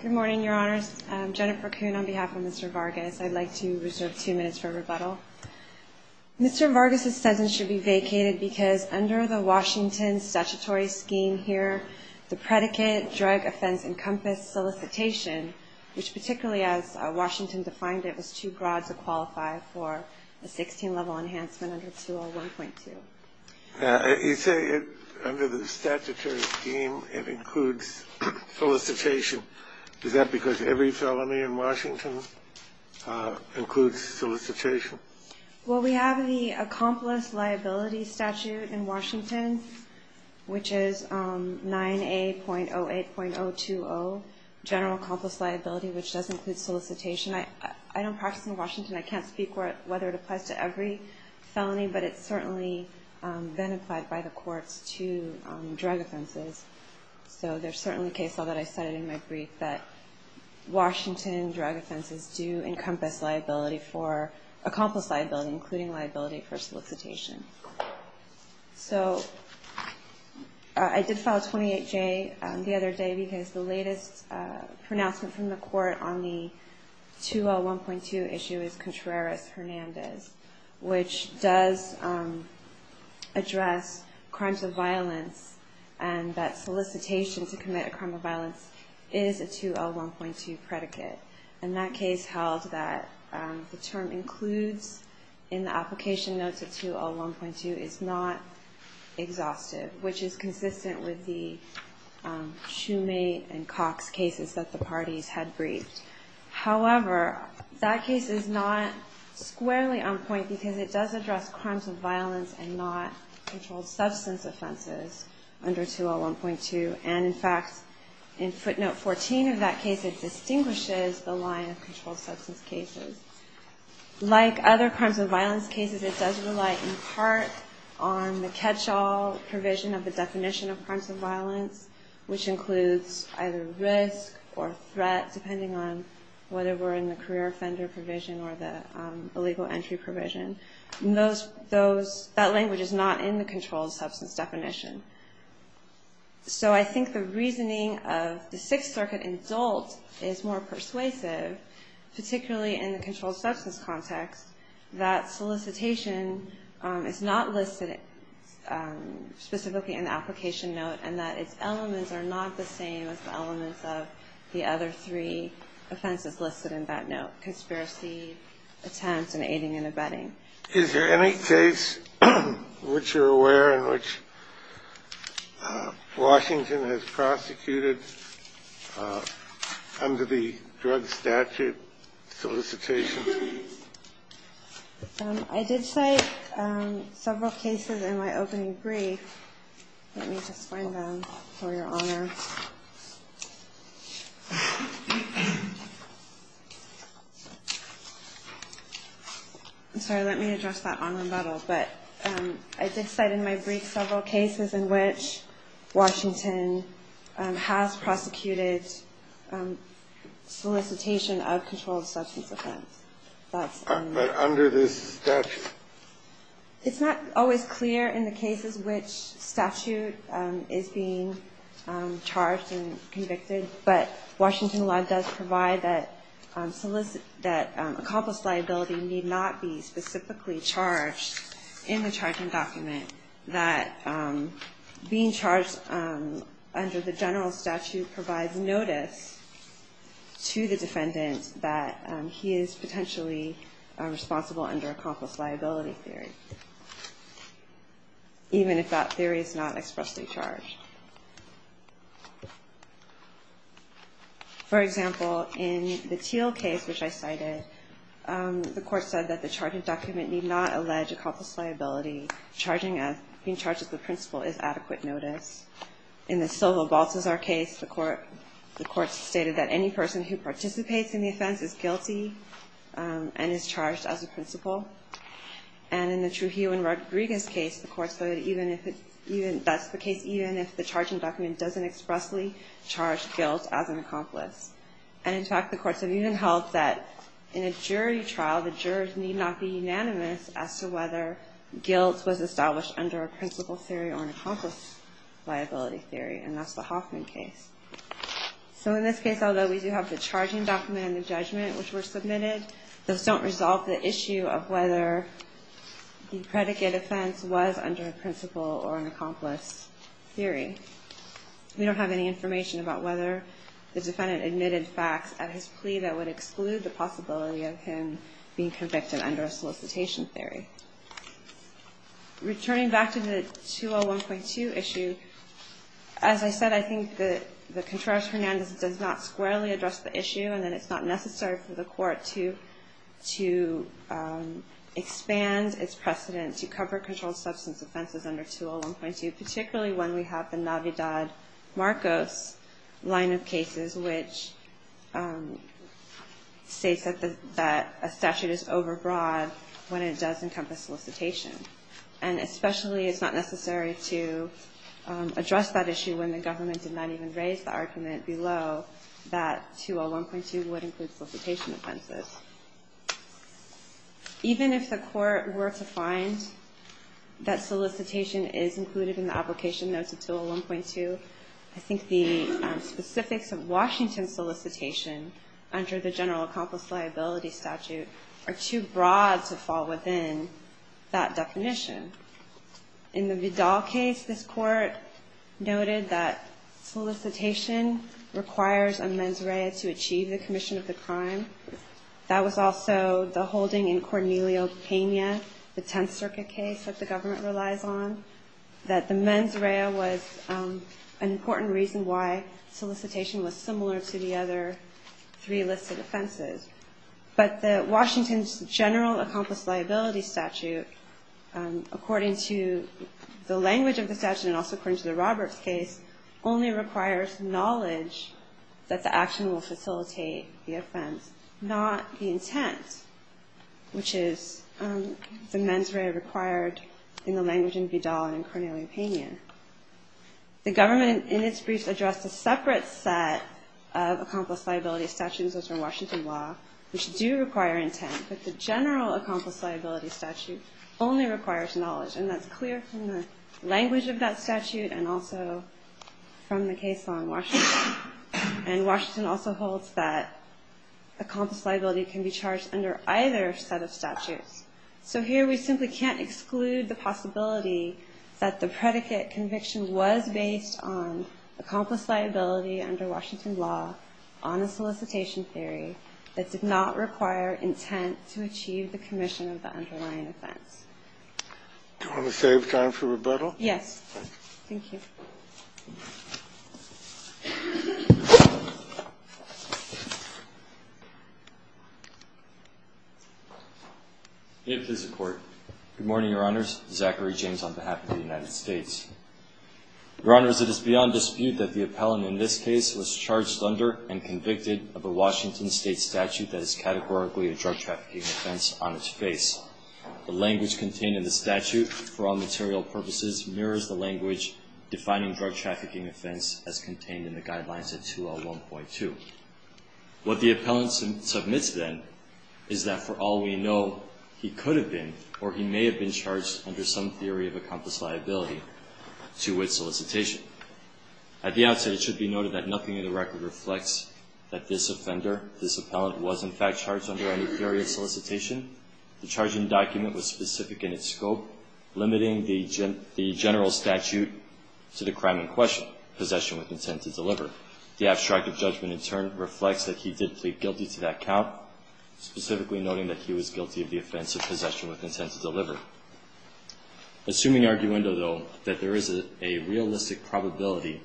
Good morning, Your Honors. I'm Jennifer Kuhn on behalf of Mr. Vargas. I'd like to reserve two minutes for rebuttal. Mr. Vargas' statement should be vacated because under the Washington statutory scheme here, the predicate drug offense encompass solicitation, which particularly as Washington defined it, was too broad to qualify for a 16-level enhancement under 201.2. You say under the statutory scheme it includes solicitation. Is that because every felony in Washington includes solicitation? Well, we have the accomplice liability statute in Washington, which is 9A.08.020, general accomplice liability, which does include solicitation. I don't practice in Washington. I can't speak whether it applies to every felony, but it's certainly been applied by the courts to drug offenses. So there's certainly a case law that I cited in my brief that Washington drug offenses do encompass liability for accomplice liability, including liability for solicitation. So I did file 28J the other day because the latest pronouncement from the court on the 201.2 issue is Contreras-Hernandez, which does address crimes of violence and that solicitation to commit a crime of violence is a 201.2 predicate. And that case held that the term includes in the application notes of 201.2 is not exhaustive, which is consistent with the Shoemate and Cox cases that the parties had briefed. However, that case is not squarely on point because it does address crimes of violence and not controlled substance offenses under 201.2. And in fact, in footnote 14 of that case, it distinguishes the line of controlled substance cases. Like other crimes of violence cases, it does rely in part on the catch-all provision of the definition of crimes of violence, which includes either risk or threat, depending on whether we're in the career offender provision or the illegal entry provision. That language is not in the controlled substance definition. So I think the reasoning of the Sixth Circuit in Dolt is more persuasive, particularly in the controlled substance context, that solicitation is not listed specifically in the application note, and that its elements are not the same as the elements of the other three offenses listed in that note, which are conspiracy attempts and aiding and abetting. Is there any case which you're aware in which Washington has prosecuted under the drug statute solicitation? I did cite several cases in my opening brief. Let me just find them, for your honor. I'm sorry. Let me address that on rebuttal. But I did cite in my brief several cases in which Washington has prosecuted solicitation of controlled substance offense. But under this statute? It's not always clear in the cases which statute is being charged and convicted, but Washington law does provide that accomplice liability need not be specifically charged in the charging document, that being charged under the general statute provides notice to the defendant that he is potentially responsible under accomplice liability theory, even if that theory is not expressly charged. For example, in the Teal case, which I cited, the court said that the charging document need not allege accomplice liability. Being charged as the principal is adequate notice. In the Silva-Baltazar case, the court stated that any person who participates in the offense is guilty and is charged as a principal. And in the Trujillo and Rodriguez case, the court said that's the case even if the charging document doesn't expressly charge guilt as an accomplice. And in fact, the courts have even held that in a jury trial, the jurors need not be unanimous as to whether guilt was established under a principal theory or an accomplice liability theory. And that's the Hoffman case. So in this case, although we do have the charging document and the judgment which were submitted, those don't resolve the issue of whether the predicate offense was under a principal or an accomplice theory. We don't have any information about whether the defendant admitted facts at his plea that would exclude the possibility of him being convicted under a solicitation theory. Returning back to the 201.2 issue, as I said, I think that the Contreras-Hernandez does not squarely address the issue and that it's not necessary for the court to expand its precedent to cover controlled substance offenses under 201.2, particularly when we have the Navidad-Marcos line of cases which states that a statute is overbroad when it does encompass solicitation. And especially it's not necessary to address that issue when the government did not even raise the argument below that 201.2 would include solicitation offenses. Even if the court were to find that solicitation is included in the application notes of 201.2, I think the specifics of Washington solicitation under the general accomplice liability statute are too broad to fall within that definition. In the Vidal case, this court noted that solicitation requires a mens rea to achieve the commission of the crime. That was also the holding in Cornelio Pena, the Tenth Circuit case that the government relies on, that the mens rea was an important reason why solicitation was similar to the other three listed offenses. But Washington's general accomplice liability statute, according to the language of the statute and also according to the Roberts case, only requires knowledge that the action will facilitate the offense, not the intent, which is the mens rea required in the language in Vidal and in Cornelio Pena. The government in its briefs addressed a separate set of accomplice liability statutes, those from Washington law, which do require intent. But the general accomplice liability statute only requires knowledge. And that's clear from the language of that statute and also from the case law in Washington. And Washington also holds that accomplice liability can be charged under either set of statutes. So here we simply can't exclude the possibility that the predicate conviction was based on accomplice liability under Washington law on a solicitation theory that did not require intent to achieve the commission of the underlying offense. Do you want to save time for rebuttal? Yes. Thank you. Good morning, Your Honors. Zachary James on behalf of the United States. Your Honors, it is beyond dispute that the appellant in this case was charged under and convicted of a Washington State statute that is categorically a drug trafficking offense on its face. The language contained in the statute, for all material purposes, mirrors the language defining drug trafficking offense as contained in the guidelines of 2L1.2. What the appellant submits then is that, for all we know, he could have been or he may have been charged under some theory of accomplice liability to its solicitation. At the outset, it should be noted that nothing in the record reflects that this offender, this appellant, was in fact charged under any theory of solicitation. The charging document was specific in its scope, limiting the general statute to the crime in question, possession with intent to deliver. The abstract of judgment, in turn, reflects that he did plead guilty to that count, specifically noting that he was guilty of the offense of possession with intent to deliver. Assuming arguendo, though, that there is a realistic probability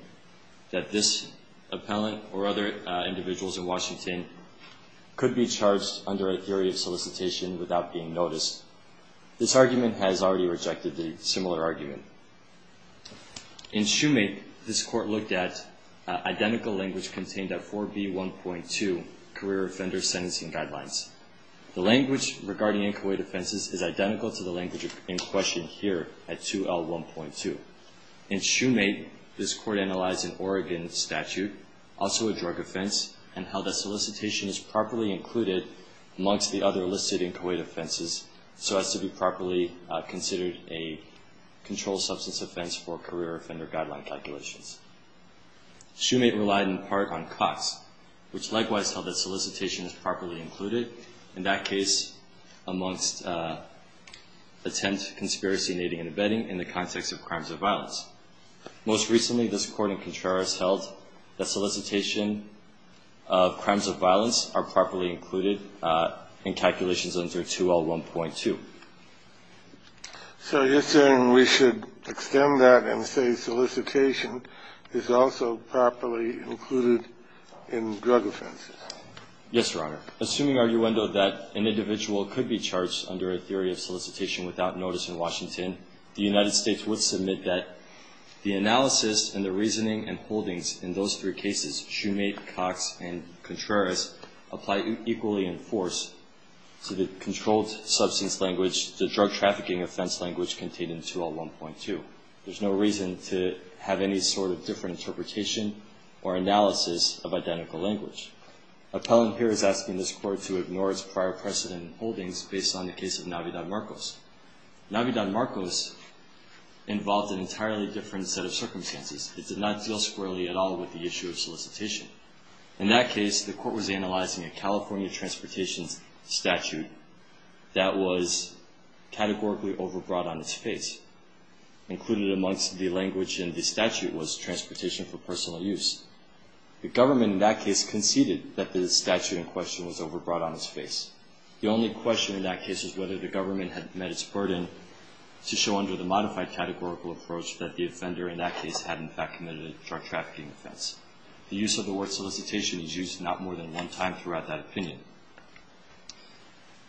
that this appellant or other individuals in Washington could be charged under a theory of solicitation without being noticed, this argument has already rejected the similar argument. In Shoemake, this Court looked at identical language contained at 4B1.2, Career Offender Sentencing Guidelines. The language regarding inchoate offenses is identical to the language in question here at 2L1.2. In Shoemake, this Court analyzed an Oregon statute, also a drug offense, and held that solicitation is properly included amongst the other listed inchoate offenses so as to be properly considered a controlled substance offense for Career Offender Guideline calculations. Shoemake relied in part on Cox, which likewise held that solicitation is properly included in that case amongst attempt, conspiracy, aiding, and abetting in the context of crimes of violence. Most recently, this Court in Contreras held that solicitation of crimes of violence are properly included in calculations under 2L1.2. So you're saying we should extend that and say solicitation is also properly included in drug offenses? Yes, Your Honor. Assuming arguendo that an individual could be charged under a theory of solicitation without notice in Washington, the United States would submit that the analysis and the reasoning and holdings in those three cases, Shoemake, Cox, and Contreras, apply equally in force to the controlled substance language, the drug trafficking offense language contained in 2L1.2. There's no reason to have any sort of different interpretation or analysis of identical language. Appellant here is asking this Court to ignore its prior precedent and holdings based on the case of Navidad-Marcos. Navidad-Marcos involved an entirely different set of circumstances. It did not deal squarely at all with the issue of solicitation. In that case, the Court was analyzing a California transportation statute that was categorically overbrought on its face. Included amongst the language in the statute was transportation for personal use. The government in that case conceded that the statute in question was overbrought on its face. The only question in that case was whether the government had met its burden to show under the modified categorical approach that the offender in that case had in fact committed a drug trafficking offense. The use of the word solicitation is used not more than one time throughout that opinion.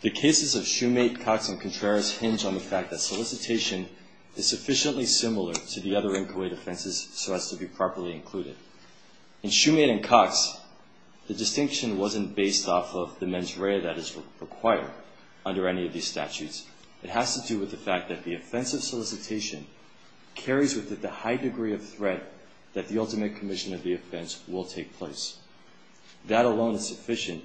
The cases of Shumate, Cox, and Contreras hinge on the fact that solicitation is sufficiently similar to the other inchoate offenses so as to be properly included. In Shumate and Cox, the distinction wasn't based off of the mens rea that is required under any of these statutes. It has to do with the fact that the offense of solicitation carries with it the high degree of threat that the ultimate commission of the offense will take place. That alone is sufficient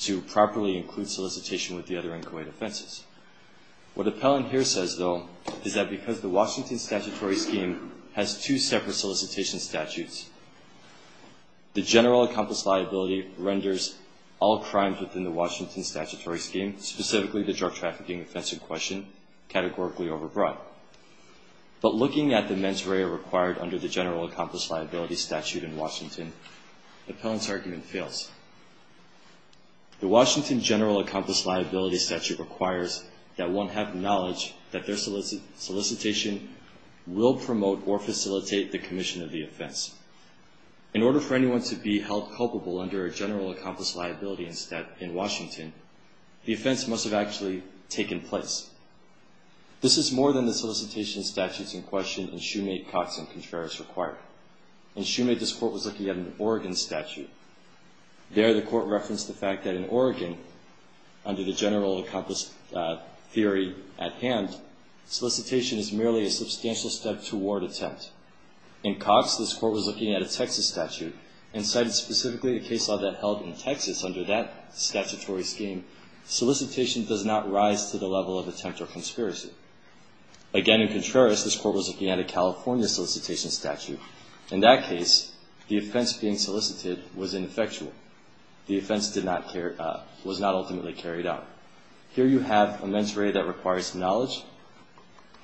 to properly include solicitation with the other inchoate offenses. What Appellant here says, though, is that because the Washington statutory scheme has two separate solicitation statutes, the general accomplice liability renders all crimes within the Washington statutory scheme, specifically the drug trafficking offense in question, categorically overbrought. But looking at the mens rea required under the general accomplice liability statute in Washington, Appellant's argument fails. The Washington general accomplice liability statute requires that one have knowledge that their solicitation will promote or facilitate the commission of the offense. In order for anyone to be held culpable under a general accomplice liability in Washington, the offense must have actually taken place. This is more than the solicitation statutes in question in Shoemake, Cox, and Contreras require. In Shoemake, this Court was looking at an Oregon statute. There, the Court referenced the fact that in Oregon, under the general accomplice theory at hand, solicitation is merely a substantial step toward attempt. In Cox, this Court was looking at a Texas statute and cited specifically a case law that held in Texas under that statutory scheme, solicitation does not rise to the level of attempt or conspiracy. Again, in Contreras, this Court was looking at a California solicitation statute. In that case, the offense being solicited was ineffectual. The offense was not ultimately carried out. Here you have a mens rea that requires knowledge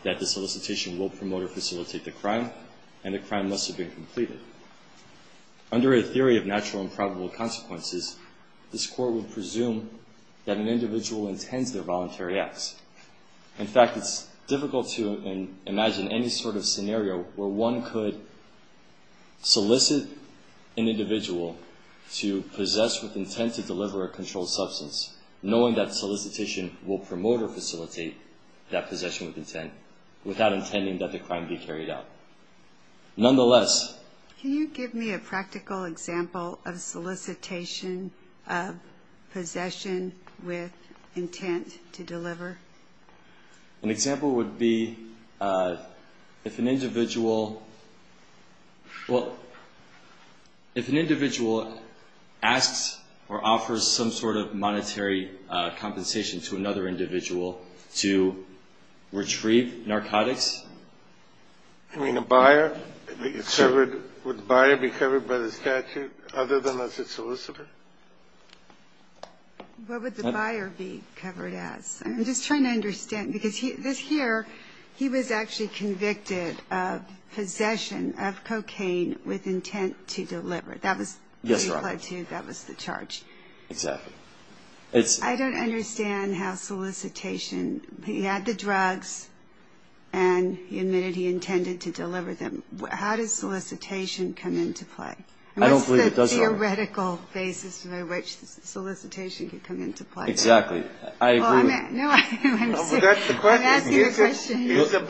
that the solicitation will promote or facilitate the crime, and the crime must have been completed. Under a theory of natural and probable consequences, this Court would presume that an individual intends their voluntary acts. In fact, it's difficult to imagine any sort of scenario where one could solicit an individual to possess with intent to deliver a controlled substance, knowing that the solicitation will promote or facilitate that possession with intent, without intending that the crime be carried out. Nonetheless. Can you give me a practical example of solicitation of possession with intent to deliver? An example would be if an individual asks or offers some sort of monetary compensation to another individual to retrieve narcotics? I mean, a buyer? Would the buyer be covered by the statute, other than as a solicitor? What would the buyer be covered as? I'm just trying to understand, because this here, he was actually convicted of possession of cocaine with intent to deliver. Yes, Your Honor. That was the charge. Exactly. I don't understand how solicitation. He had the drugs, and he admitted he intended to deliver them. How does solicitation come into play? I don't believe it does, Your Honor. What's the theoretical basis by which solicitation could come into play? Exactly. I agree. No, I'm asking a question. Is a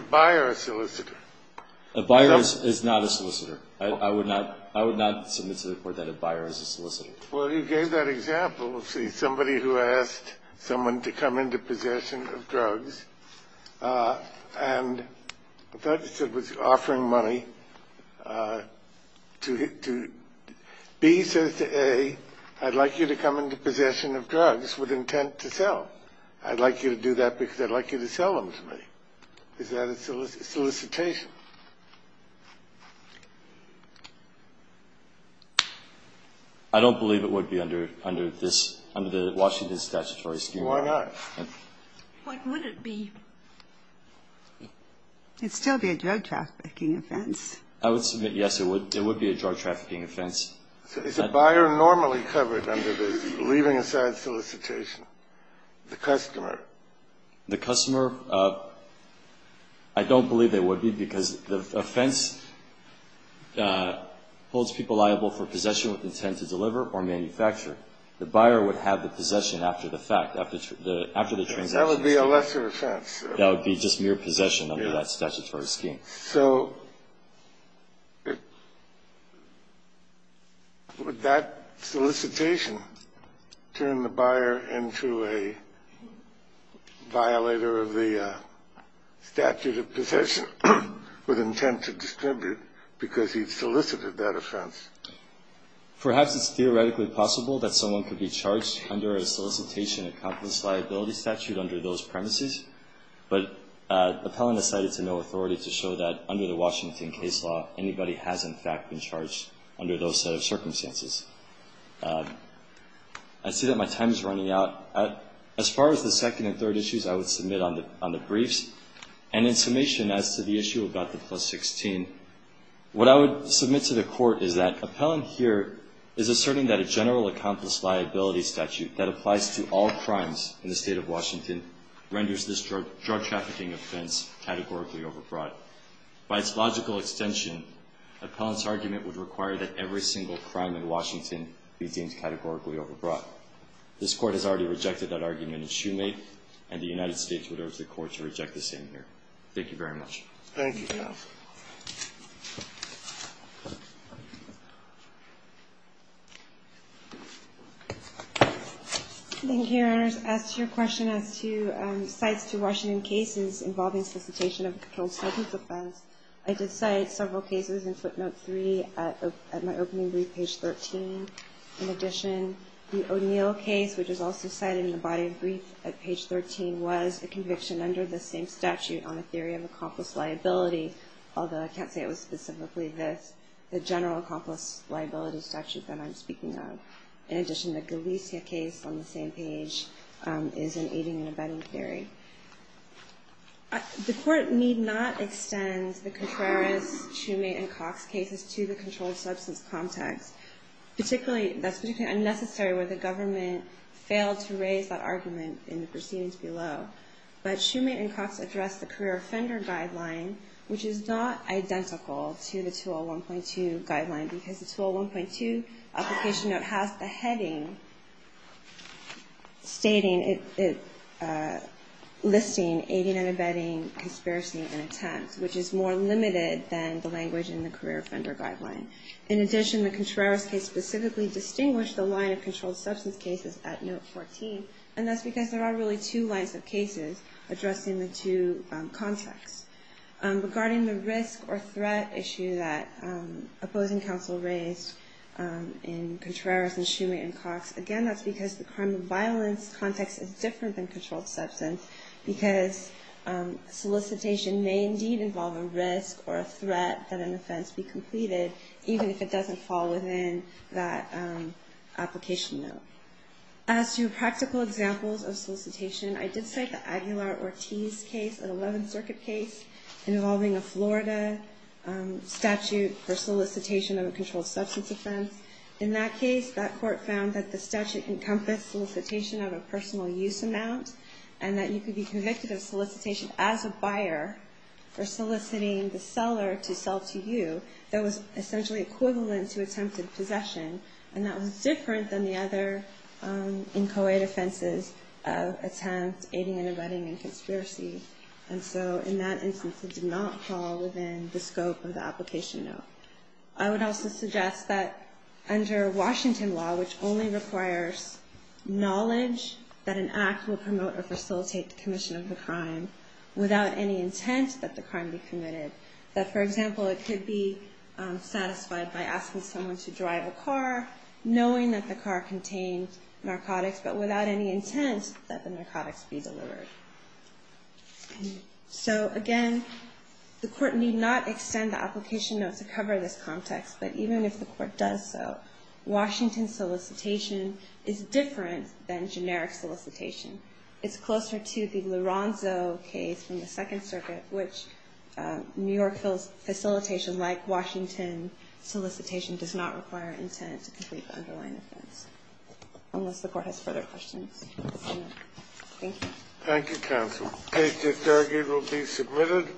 buyer a solicitor? A buyer is not a solicitor. I would not submit to the Court that a buyer is a solicitor. Well, you gave that example. Let's see. Somebody who asked someone to come into possession of drugs, and I thought you said was offering money. B says to A, I'd like you to come into possession of drugs with intent to sell. I'd like you to do that because I'd like you to sell them to me. Is that a solicitation? I don't believe it would be under this, under the Washington statutory scheme. Why not? What would it be? It'd still be a drug trafficking offense. I would submit, yes, it would. It would be a drug trafficking offense. Is a buyer normally covered under the leaving aside solicitation? The customer? The customer, I don't believe they would be because the offense holds people liable for possession with intent to deliver or manufacture. The buyer would have the possession after the fact, after the transaction. That would be a lesser offense. That would be just mere possession under that statutory scheme. So would that solicitation turn the buyer into a violator of the statute of possession with intent to distribute because he solicited that offense? Perhaps it's theoretically possible that someone could be charged under a solicitation of complex liability statute under those premises, but Appellant has cited to no authority to show that under the Washington case law, anybody has in fact been charged under those set of circumstances. I see that my time is running out. As far as the second and third issues, I would submit on the briefs. And in summation as to the issue about the plus 16, what I would submit to the Court is that Appellant here is asserting that a general accomplice liability statute that applies to all crimes in the State of Washington renders this drug trafficking offense categorically overbrought. By its logical extension, Appellant's argument would require that every single crime in Washington be deemed categorically overbrought. This Court has already rejected that argument in Shoemake, and the United States would urge the Court to reject the same here. Thank you very much. Thank you. Thank you, Your Honors. As to your question as to cites to Washington cases involving solicitation of a controlled substance offense, I did cite several cases in footnote 3 at my opening brief, page 13. In addition, the O'Neill case, which is also cited in the body of brief at page 13, was a conviction under the same statute on the theory of accomplice liability, although I can't say it was specifically the general accomplice liability statute that I'm speaking of. In addition, the Galicia case on the same page is an aiding and abetting theory. The Court need not extend the Contreras, Shoemake, and Cox cases to the controlled substance context. That's particularly unnecessary where the government failed to raise that argument in the proceedings below. But Shoemake and Cox address the career offender guideline, which is not identical to the 201.2 guideline, because the 201.2 application note has the heading listing aiding and abetting conspiracy and attempt, which is more limited than the language in the career offender guideline. In addition, the Contreras case specifically distinguished the line of controlled substance cases at note 14, and that's because there are really two lines of cases addressing the two contexts. Regarding the risk or threat issue that opposing counsel raised in Contreras and Shoemake and Cox, again, that's because the crime of violence context is different than controlled substance, because solicitation may indeed involve a risk or a threat that an offense be completed, even if it doesn't fall within that application note. As to practical examples of solicitation, I did cite the Aguilar-Ortiz case, an 11th Circuit case, involving a Florida statute for solicitation of a controlled substance offense. In that case, that court found that the statute encompassed solicitation of a personal use amount, and that you could be convicted of solicitation as a buyer for soliciting the seller to sell to you. That was essentially equivalent to attempted possession, and that was different than the other inchoate offenses of attempt, aiding and abetting, and conspiracy. And so in that instance, it did not fall within the scope of the application note. I would also suggest that under Washington law, which only requires knowledge that an act will promote or facilitate the commission of the crime, without any intent that the crime be committed, that, for example, it could be satisfied by asking someone to drive a car, knowing that the car contains narcotics, but without any intent that the narcotics be delivered. So again, the court need not extend the application notes to cover this context, but even if the court does so, Washington solicitation is different than generic solicitation. It's closer to the Lorenzo case from the Second Circuit, which New York facilitation, like Washington solicitation, does not require intent to complete the underlying offense. Unless the court has further questions. Thank you. Thank you, counsel. The case is now agreed to be submitted.